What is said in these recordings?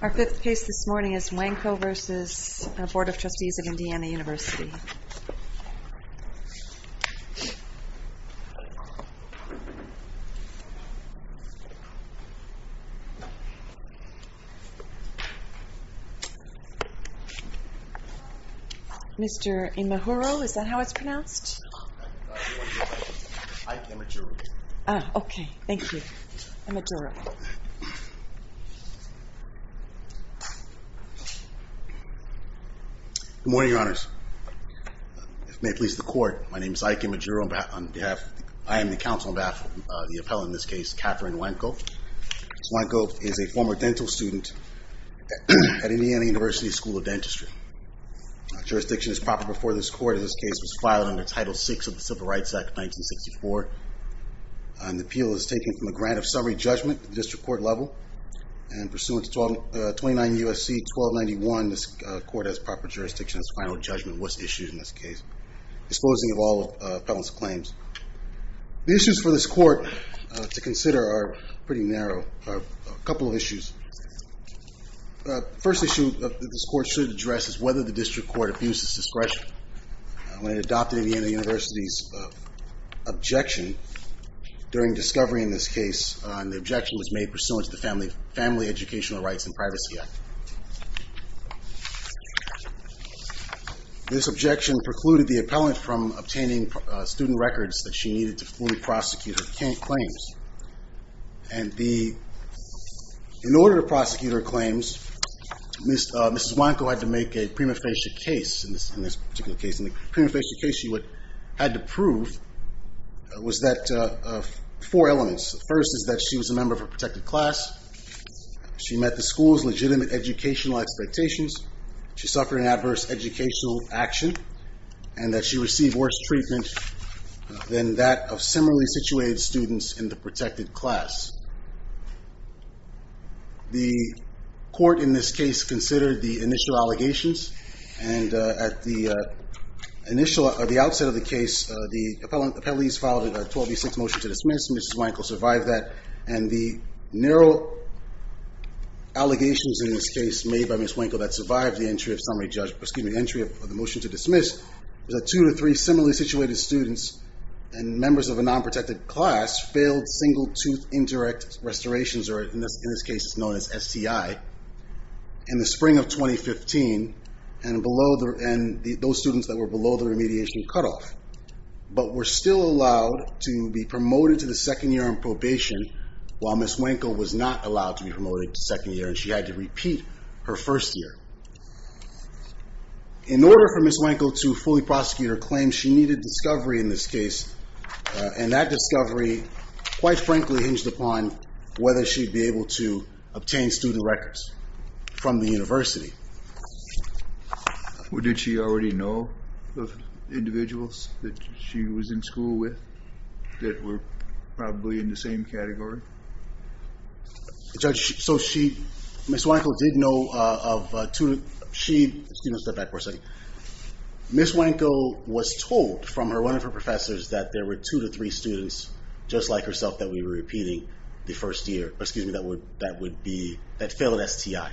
Our fifth case this morning is Wanko v. Board of Trustees of Indiana University. Mr. Imahuro, is that how it's pronounced? Imajuro. Ah, okay. Thank you. Good morning, Your Honors. If it may please the court, my name is Ike Imajuro. I am the counsel on behalf of the appellant in this case, Katherine Wanko. Ms. Wanko is a former dental student at Indiana University School of Dentistry. Her jurisdiction is proper before this court. This case was filed under Title VI of the Civil Rights Act of 1964. And the appeal is taken from a grant of summary judgment at the district court level. And pursuant to 29 U.S.C. 1291, this court has proper jurisdiction. Its final judgment was issued in this case, disposing of all appellant's claims. The issues for this court to consider are pretty narrow. A couple of issues. The first issue that this court should address is whether the district court abuses discretion. When it adopted Indiana University's objection during discovery in this case, and the objection was made pursuant to the Family Educational Rights and Privacy Act. This objection precluded the appellant from obtaining student records that she needed to fully prosecute her claims. And the, in order to prosecute her claims, Ms. Wanko had to make a prima facie case in this particular case. And the prima facie case she had to prove was that of four elements. The first is that she was a member of a protected class. She met the school's legitimate educational expectations. She suffered an adverse educational action. And that she received worse treatment than that of similarly situated students in the protected class. The court in this case considered the initial allegations. And at the outset of the case, the appellees filed a 12-6 motion to dismiss. Ms. Wanko survived that. And the narrow allegations in this case made by Ms. Wanko that survived the entry of the motion to dismiss, was that two to three similarly situated students and members of a non-protected class failed single-tooth indirect restorations, or in this case it's known as STI. In the spring of 2015, and those students that were below the remediation cutoff, but were still allowed to be promoted to the second year on probation, while Ms. Wanko was not allowed to be promoted to second year and she had to repeat her first year. In order for Ms. Wanko to fully prosecute her claims, she needed discovery in this case. And that discovery, quite frankly, hinged upon whether she'd be able to obtain student records from the university. Well, did she already know the individuals that she was in school with that were probably in the same category? Judge, so she, Ms. Wanko did know of two, she, excuse me, step back for a second. Ms. Wanko was told from one of her professors that there were two to three students, just like herself, that we were repeating the first year, excuse me, that would be, that failed STI.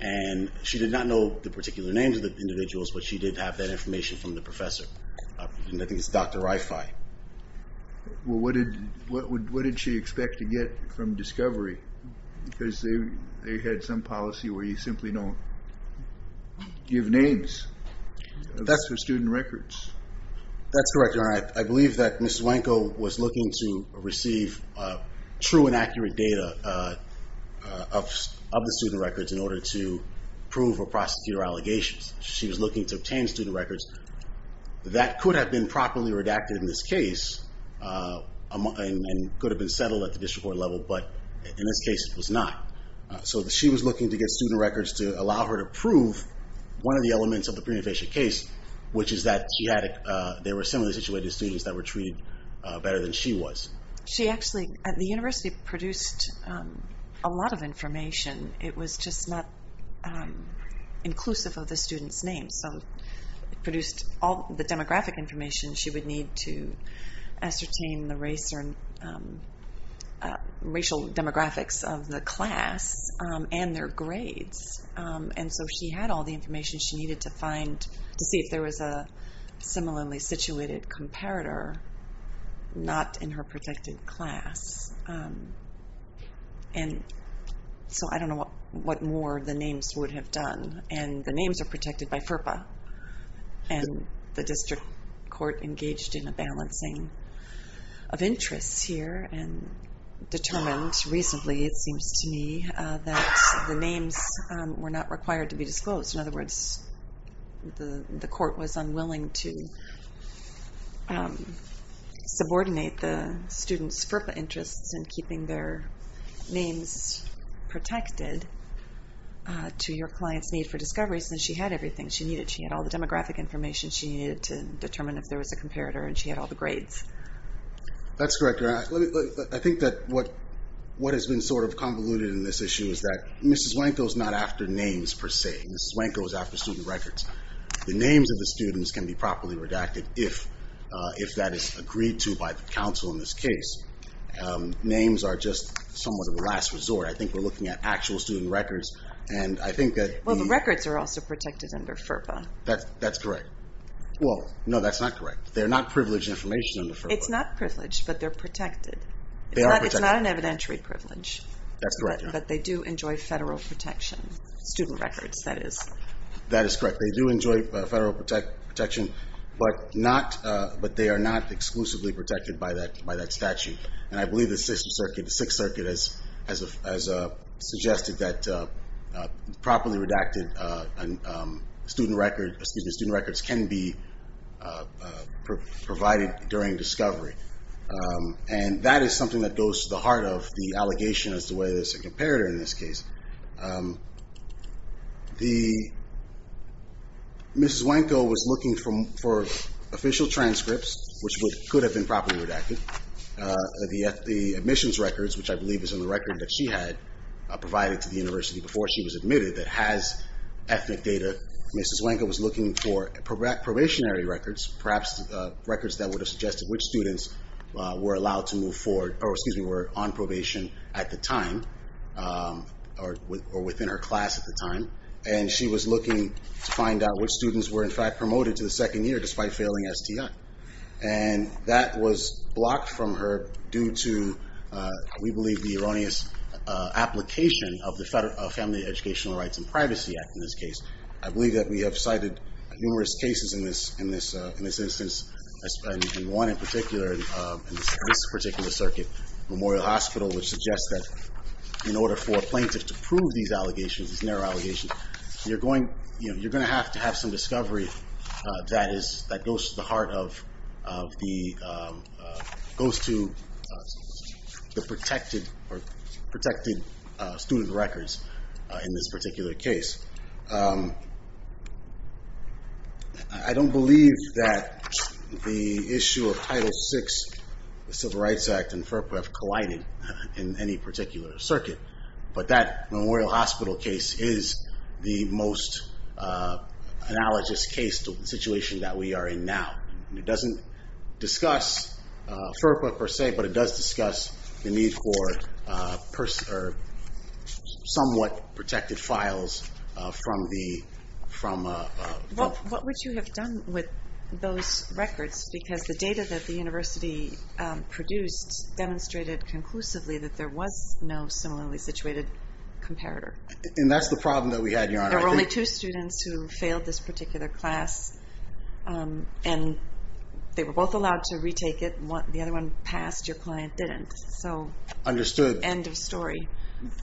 And she did not know the particular names of the individuals, but she did have that information from the professor. I think it's Dr. Rifai. Well, what did she expect to get from discovery? Because they had some policy where you simply don't give names. That's for student records. That's correct, Your Honor. I believe that Ms. Wanko was looking to receive true and accurate data of the student records in order to prove or prosecute her allegations. She was looking to obtain student records that could have been properly redacted in this case and could have been settled at the district court level, but in this case it was not. So she was looking to get student records to allow her to prove one of the elements of the pre-invasion case, which is that she had, they were similarly situated students that were treated better than she was. She actually, the university produced a lot of information. It produced all the demographic information she would need to ascertain the race or racial demographics of the class and their grades, and so she had all the information she needed to find, to see if there was a similarly situated comparator not in her protected class. And so I don't know what more the names would have done. And the names are protected by FERPA, and the district court engaged in a balancing of interests here and determined recently, it seems to me, that the names were not required to be disclosed. In other words, the court was unwilling to subordinate the students' FERPA interests in keeping their names protected to your client's need for discovery since she had everything she needed. She had all the demographic information she needed to determine if there was a comparator, and she had all the grades. That's correct, Your Honor. I think that what has been sort of convoluted in this issue is that Mrs. Wanko is not after names per se. Mrs. Wanko is after student records. The names of the students can be properly redacted if that is agreed to by the counsel in this case. Names are just somewhat of a last resort. I think we're looking at actual student records, and I think that the... Well, the records are also protected under FERPA. That's correct. Well, no, that's not correct. They're not privileged information under FERPA. It's not privileged, but they're protected. They are protected. It's not an evidentiary privilege. That's correct, Your Honor. But they do enjoy federal protection, student records, that is. That is correct. They do enjoy federal protection, but they are not exclusively protected by that statute. And I believe the Sixth Circuit has suggested that properly redacted student records can be provided during discovery. And that is something that goes to the heart of the allegation as to whether there's a comparator in this case. Mrs. Wanko was looking for official transcripts, which could have been properly redacted. The admissions records, which I believe is in the record that she had provided to the university before she was admitted, that has ethnic data, Mrs. Wanko was looking for probationary records, perhaps records that would have suggested which students were allowed to move forward or, excuse me, were on probation at the time or within her class at the time. And she was looking to find out which students were, in fact, promoted to the second year despite failing STI. And that was blocked from her due to, we believe, the erroneous application of the Family Educational Rights and Privacy Act in this case. I believe that we have cited numerous cases in this instance, and one in particular, in this particular circuit, Memorial Hospital, which suggests that in order for a plaintiff to prove these allegations, these narrow allegations, you're going to have to have some discovery that goes to the heart of the protected student records in this particular case. I don't believe that the issue of Title VI, the Civil Rights Act, and FERPA have collided in any particular circuit, but that Memorial Hospital case is the most analogous case to the situation that we are in now. It doesn't discuss FERPA, per se, but it does discuss the need for somewhat protected files from the... What would you have done with those records? Because the data that the university produced demonstrated conclusively that there was no similarly situated comparator. And that's the problem that we had, Your Honor. There were only two students who failed this particular class, and they were both allowed to retake it. The other one passed. Your client didn't. So... Understood. End of story.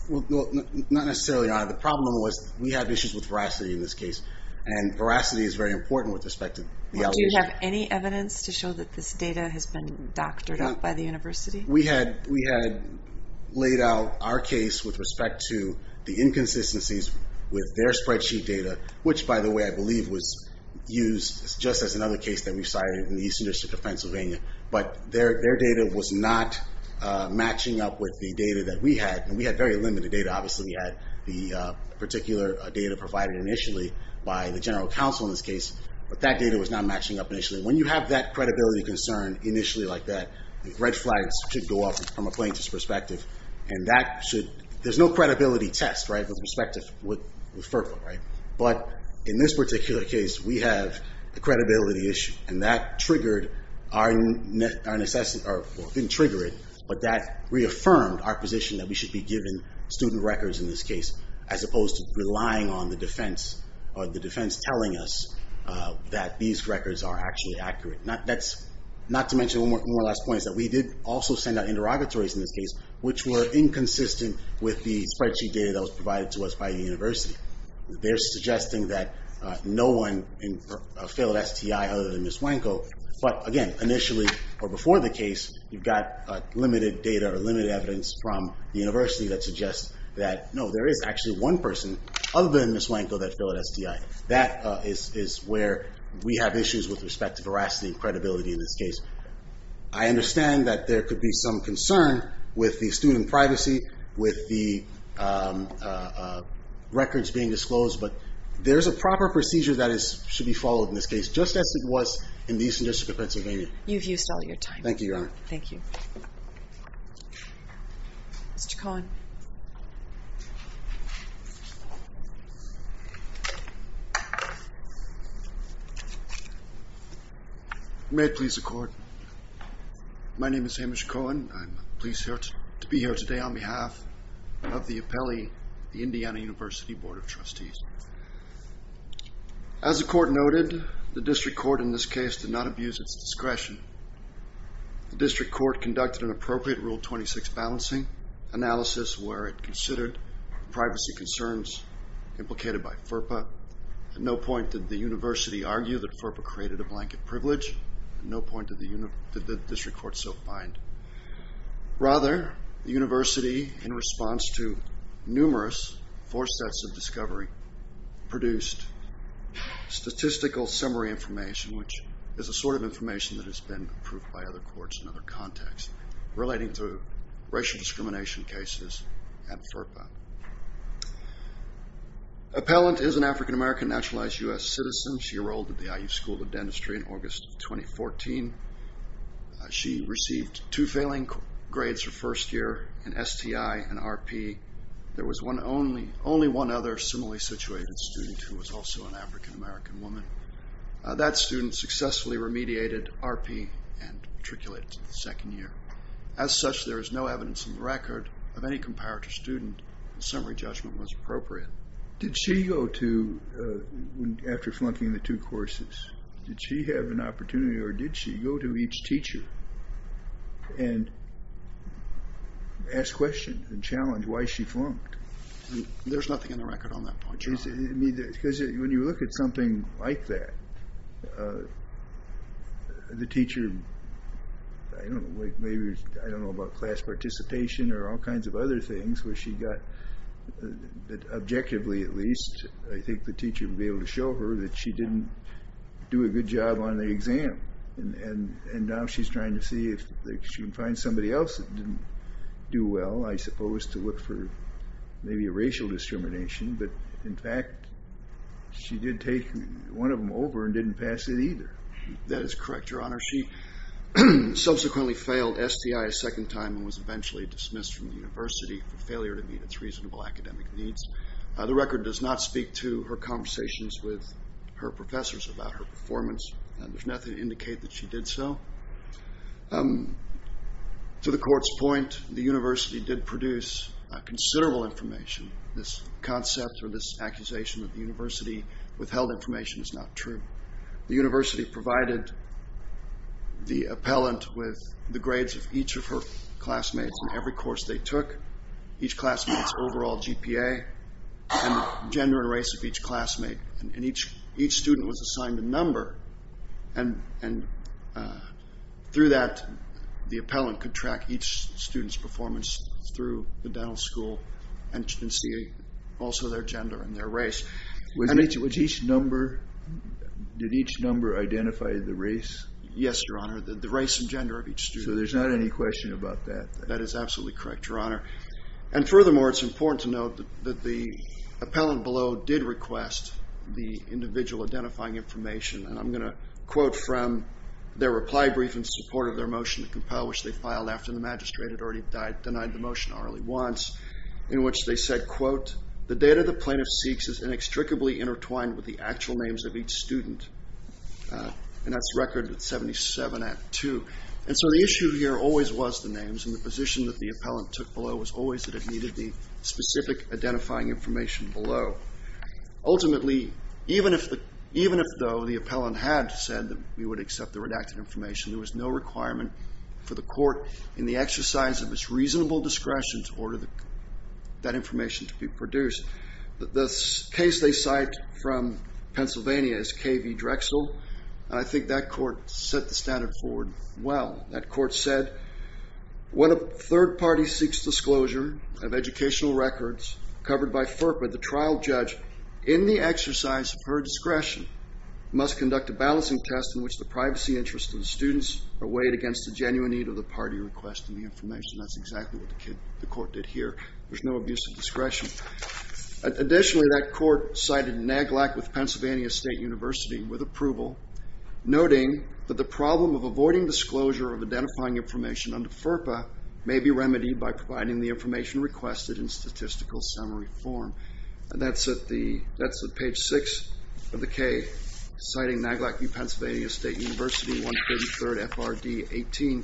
Not necessarily, Your Honor. The problem was we had issues with veracity in this case, and veracity is very important with respect to the allegations. Do you have any evidence to show that this data has been doctored up by the university? We had laid out our case with respect to the inconsistencies with their spreadsheet data, which, by the way, I believe was used just as another case that we cited in the Eastern District of Pennsylvania. But their data was not matching up with the data that we had, and we had very limited data. Obviously, we had the particular data provided initially by the general counsel in this case, but that data was not matching up initially. When you have that credibility concern initially like that, the red flags should go up from a plaintiff's perspective. And that should—there's no credibility test, right, with respect to FERPA, right? But in this particular case, we have a credibility issue, and that triggered our—or didn't trigger it, but that reaffirmed our position that we should be given student records in this case, as opposed to relying on the defense or the defense telling us that these records are actually accurate. That's not to mention one more last point is that we did also send out interrogatories in this case, which were inconsistent with the spreadsheet data that was provided to us by the university. They're suggesting that no one failed STI other than Ms. Wanko. But, again, initially or before the case, you've got limited data or limited evidence from the university that suggests that, no, there is actually one person other than Ms. Wanko that failed STI. That is where we have issues with respect to veracity and credibility in this case. I understand that there could be some concern with the student privacy, with the records being disclosed, but there's a proper procedure that should be followed in this case, just as it was in the Eastern District of Pennsylvania. You've used all your time. Thank you, Your Honor. Thank you. Mr. Cohen. May it please the Court. My name is Hamish Cohen. I'm pleased to be here today on behalf of the appellee, the Indiana University Board of Trustees. As the Court noted, the District Court in this case did not abuse its discretion. The District Court conducted an appropriate Rule 26 balancing analysis where it considered privacy concerns implicated by FERPA. At no point did the university argue that FERPA created a blanket privilege. At no point did the District Court so find. Rather, the university, in response to numerous force sets of discovery, produced statistical summary information, which is the sort of information that has been approved by other courts in other contexts, relating to racial discrimination cases at FERPA. Appellant is an African-American, naturalized U.S. citizen. She enrolled at the IU School of Dentistry in August of 2014. She received two failing grades her first year in STI and RP. There was only one other similarly situated student who was also an African-American woman. That student successfully remediated RP and matriculated to the second year. As such, there is no evidence in the record of any comparative student. The summary judgment was appropriate. Did she go to, after flunking the two courses, did she have an opportunity, or did she go to each teacher and ask questions and challenge why she flunked? There's nothing in the record on that point, Your Honor. Because when you look at something like that, the teacher, I don't know, maybe, I don't know about class participation or all kinds of other things where she got, objectively at least, I think the teacher would be able to show her that she didn't do a good job on the exam. And now she's trying to see if she can find somebody else that didn't do well, I suppose, to look for maybe a racial discrimination. But, in fact, she did take one of them over and didn't pass it either. That is correct, Your Honor. She subsequently failed STI a second time and was eventually dismissed from the university for failure to meet its reasonable academic needs. The record does not speak to her conversations with her professors about her performance. There's nothing to indicate that she did so. To the court's point, the university did produce considerable information. This concept or this accusation that the university withheld information is not true. The university provided the appellant with the grades of each of her classmates in every course they took, each classmate's overall GPA, and gender and race of each classmate. And each student was assigned a number. And through that, the appellant could track each student's performance through the dental school and see also their gender and their race. Did each number identify the race? Yes, Your Honor, the race and gender of each student. So there's not any question about that. That is absolutely correct, Your Honor. And furthermore, it's important to note that the appellant below did request the individual identifying information. And I'm going to quote from their reply brief in support of their motion to compel, which they filed after the magistrate had already denied the motion early once, in which they said, quote, The data the plaintiff seeks is inextricably intertwined with the actual names of each student. And that's record at 77 at 2. And so the issue here always was the names, and the position that the appellant took below was always that it needed the specific identifying information below. Ultimately, even if, though, the appellant had said that we would accept the redacted information, there was no requirement for the court in the exercise of its reasonable discretion to order that information to be produced. The case they cite from Pennsylvania is K.V. Drexel. And I think that court set the standard forward well. That court said, When a third party seeks disclosure of educational records covered by FERPA, the trial judge, in the exercise of her discretion, must conduct a balancing test in which the privacy interests of the students are weighed against the genuine need of the party requesting the information. That's exactly what the court did here. There's no abuse of discretion. Additionally, that court cited NAGLAC with Pennsylvania State University with approval, noting that the problem of avoiding disclosure of identifying information under FERPA may be remedied by providing the information requested in statistical summary form. That's at page 6 of the K, citing NAGLAC v. Pennsylvania State University, 133rd FRD 18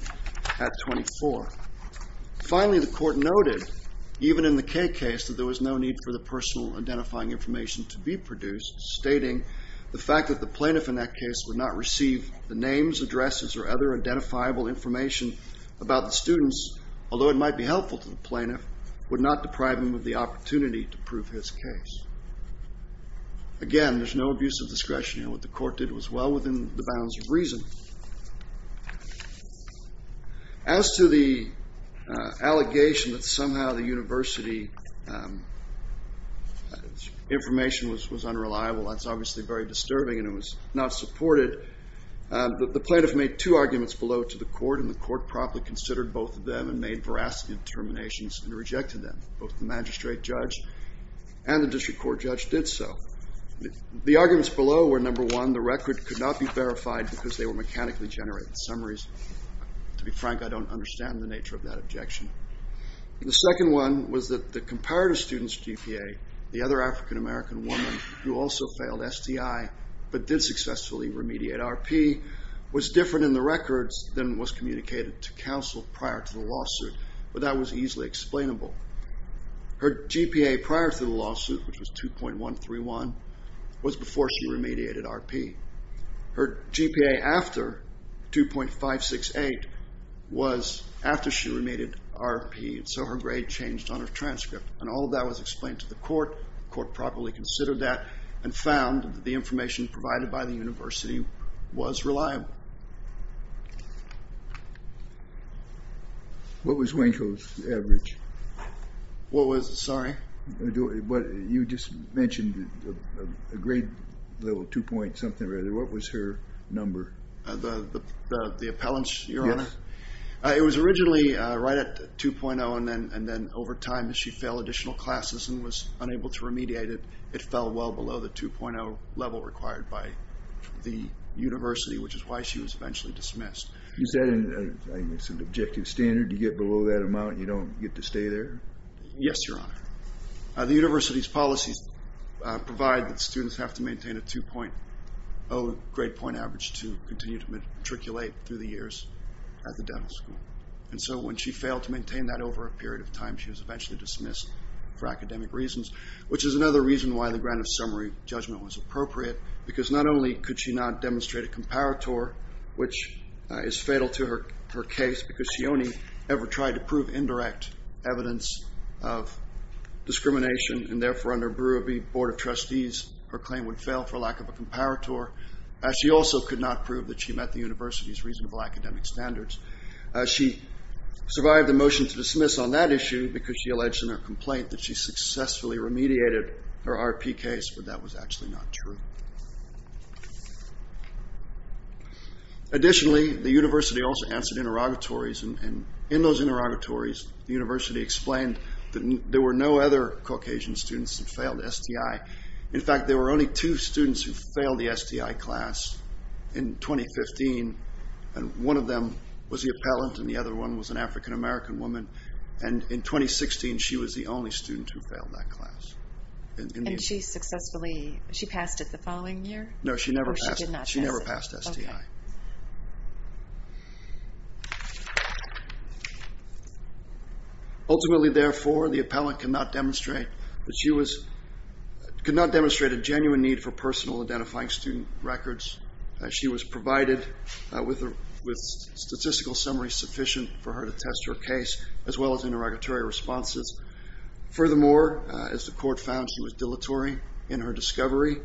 at 24. Finally, the court noted, even in the K case, that there was no need for the personal identifying information to be produced, stating the fact that the plaintiff in that case would not receive the names, addresses, or other identifiable information about the students, although it might be helpful to the plaintiff, would not deprive him of the opportunity to prove his case. Again, there's no abuse of discretion here. What the court did was well within the bounds of reason. As to the allegation that somehow the university information was unreliable, that's obviously very disturbing and it was not supported, the plaintiff made two arguments below to the court, and the court promptly considered both of them and made veracity determinations and rejected them. Both the magistrate judge and the district court judge did so. The arguments below were, number one, the record could not be verified because they were mechanically generated summaries. To be frank, I don't understand the nature of that objection. The second one was that the comparative student's GPA, the other African-American woman who also failed STI but did successfully remediate RP, was different in the records than was communicated to counsel prior to the lawsuit, but that was easily explainable. Her GPA prior to the lawsuit, which was 2.131, was before she remediated RP. Her GPA after 2.568 was after she remediated RP and so her grade changed on her transcript and all of that was explained to the court. The court properly considered that and found that the information provided by the university was reliable. What was Wanko's average? What was it? Sorry. You just mentioned a grade level, 2 point something or other. What was her number? The appellants? Yes. It was originally right at 2.0 and then over time as she failed additional classes and was unable to remediate it, it fell well below the 2.0 level required by the university, which is why she was eventually dismissed. Is that an objective standard to get below that amount and you don't get to stay there? Yes, your honor. The university's policies provide that students have to maintain a 2.0 grade point average to continue to matriculate through the years at the dental school and so when she failed to maintain that over a period of time, she was eventually dismissed for academic reasons, which is another reason why the grant of summary judgment was appropriate because not only could she not demonstrate a comparator, which is fatal to her case because she only ever tried to prove indirect evidence of discrimination and therefore under Brewer v. Board of Trustees, her claim would fail for lack of a comparator. She also could not prove that she met the university's reasonable academic standards. She survived the motion to dismiss on that issue because she alleged in her complaint that she successfully remediated her RP case, but that was actually not true. Additionally, the university also answered interrogatories and in those interrogatories, the university explained that there were no other Caucasian students that failed STI. In fact, there were only two students who failed the STI class in 2015 and one of them was the appellant and the other one was an African American woman And she successfully passed it the following year? No, she never passed STI. Ultimately, therefore, the appellant could not demonstrate a genuine need for personal identifying student records. She was provided with statistical summaries sufficient for her to test her case as well as interrogatory responses. Furthermore, as the court found she was dilatory in her discovery,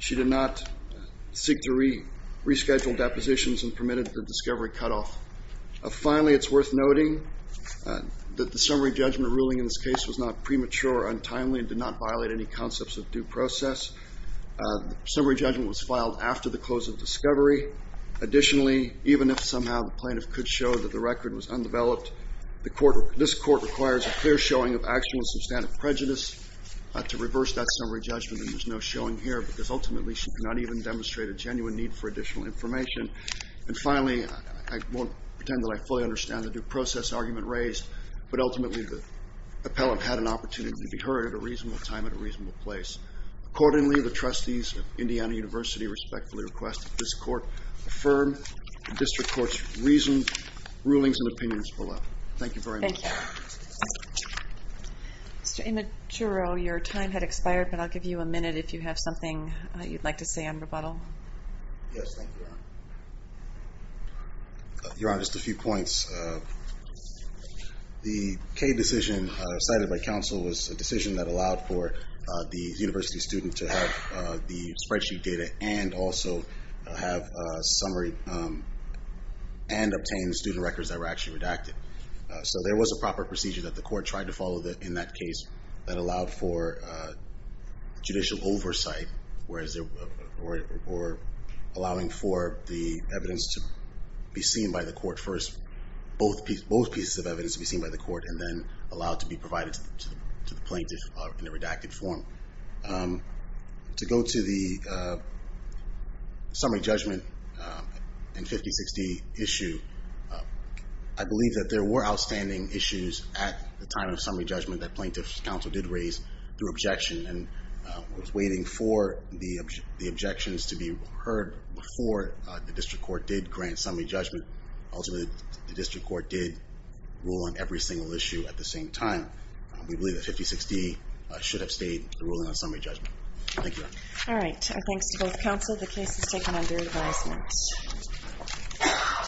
she did not seek to reschedule depositions and permitted the discovery cutoff. Finally, it's worth noting that the summary judgment ruling in this case was not premature or untimely and did not violate any concepts of due process. Summary judgment was filed after the close of discovery. Additionally, even if somehow the plaintiff could show that the record was undeveloped, this court requires a clear showing of actual and substantive prejudice to reverse that summary judgment and there's no showing here because ultimately she could not even demonstrate a genuine need for additional information. And finally, I won't pretend that I fully understand the due process argument raised, but ultimately the appellant had an opportunity to be heard at a reasonable time and a reasonable place. Accordingly, the trustees of Indiana University respectfully request that this court affirm the district court's reasons, rulings, and opinions below. Thank you very much. Thank you. Mr. Imaturo, your time had expired, but I'll give you a minute if you have something you'd like to say on rebuttal. Yes, thank you, Your Honor. Your Honor, just a few points. The K decision cited by counsel was a decision that allowed for the university student to have the spreadsheet data and also have a summary and obtain the student records that were actually redacted. So there was a proper procedure that the court tried to follow in that case that allowed for judicial oversight or allowing for the evidence to be seen by the court first, both pieces of evidence to be seen by the court and then allowed to be provided to the plaintiff in a redacted form. To go to the summary judgment in 5060 issue, I believe that there were outstanding issues at the time of summary judgment that plaintiff's counsel did raise through objection and was waiting for the objections to be heard before the district court did grant summary judgment. Ultimately, the district court did rule on every single issue at the same time. We believe that 5060 should have stayed the ruling on summary judgment. Thank you, Your Honor. All right, thanks to both counsel. The case is taken under advisement.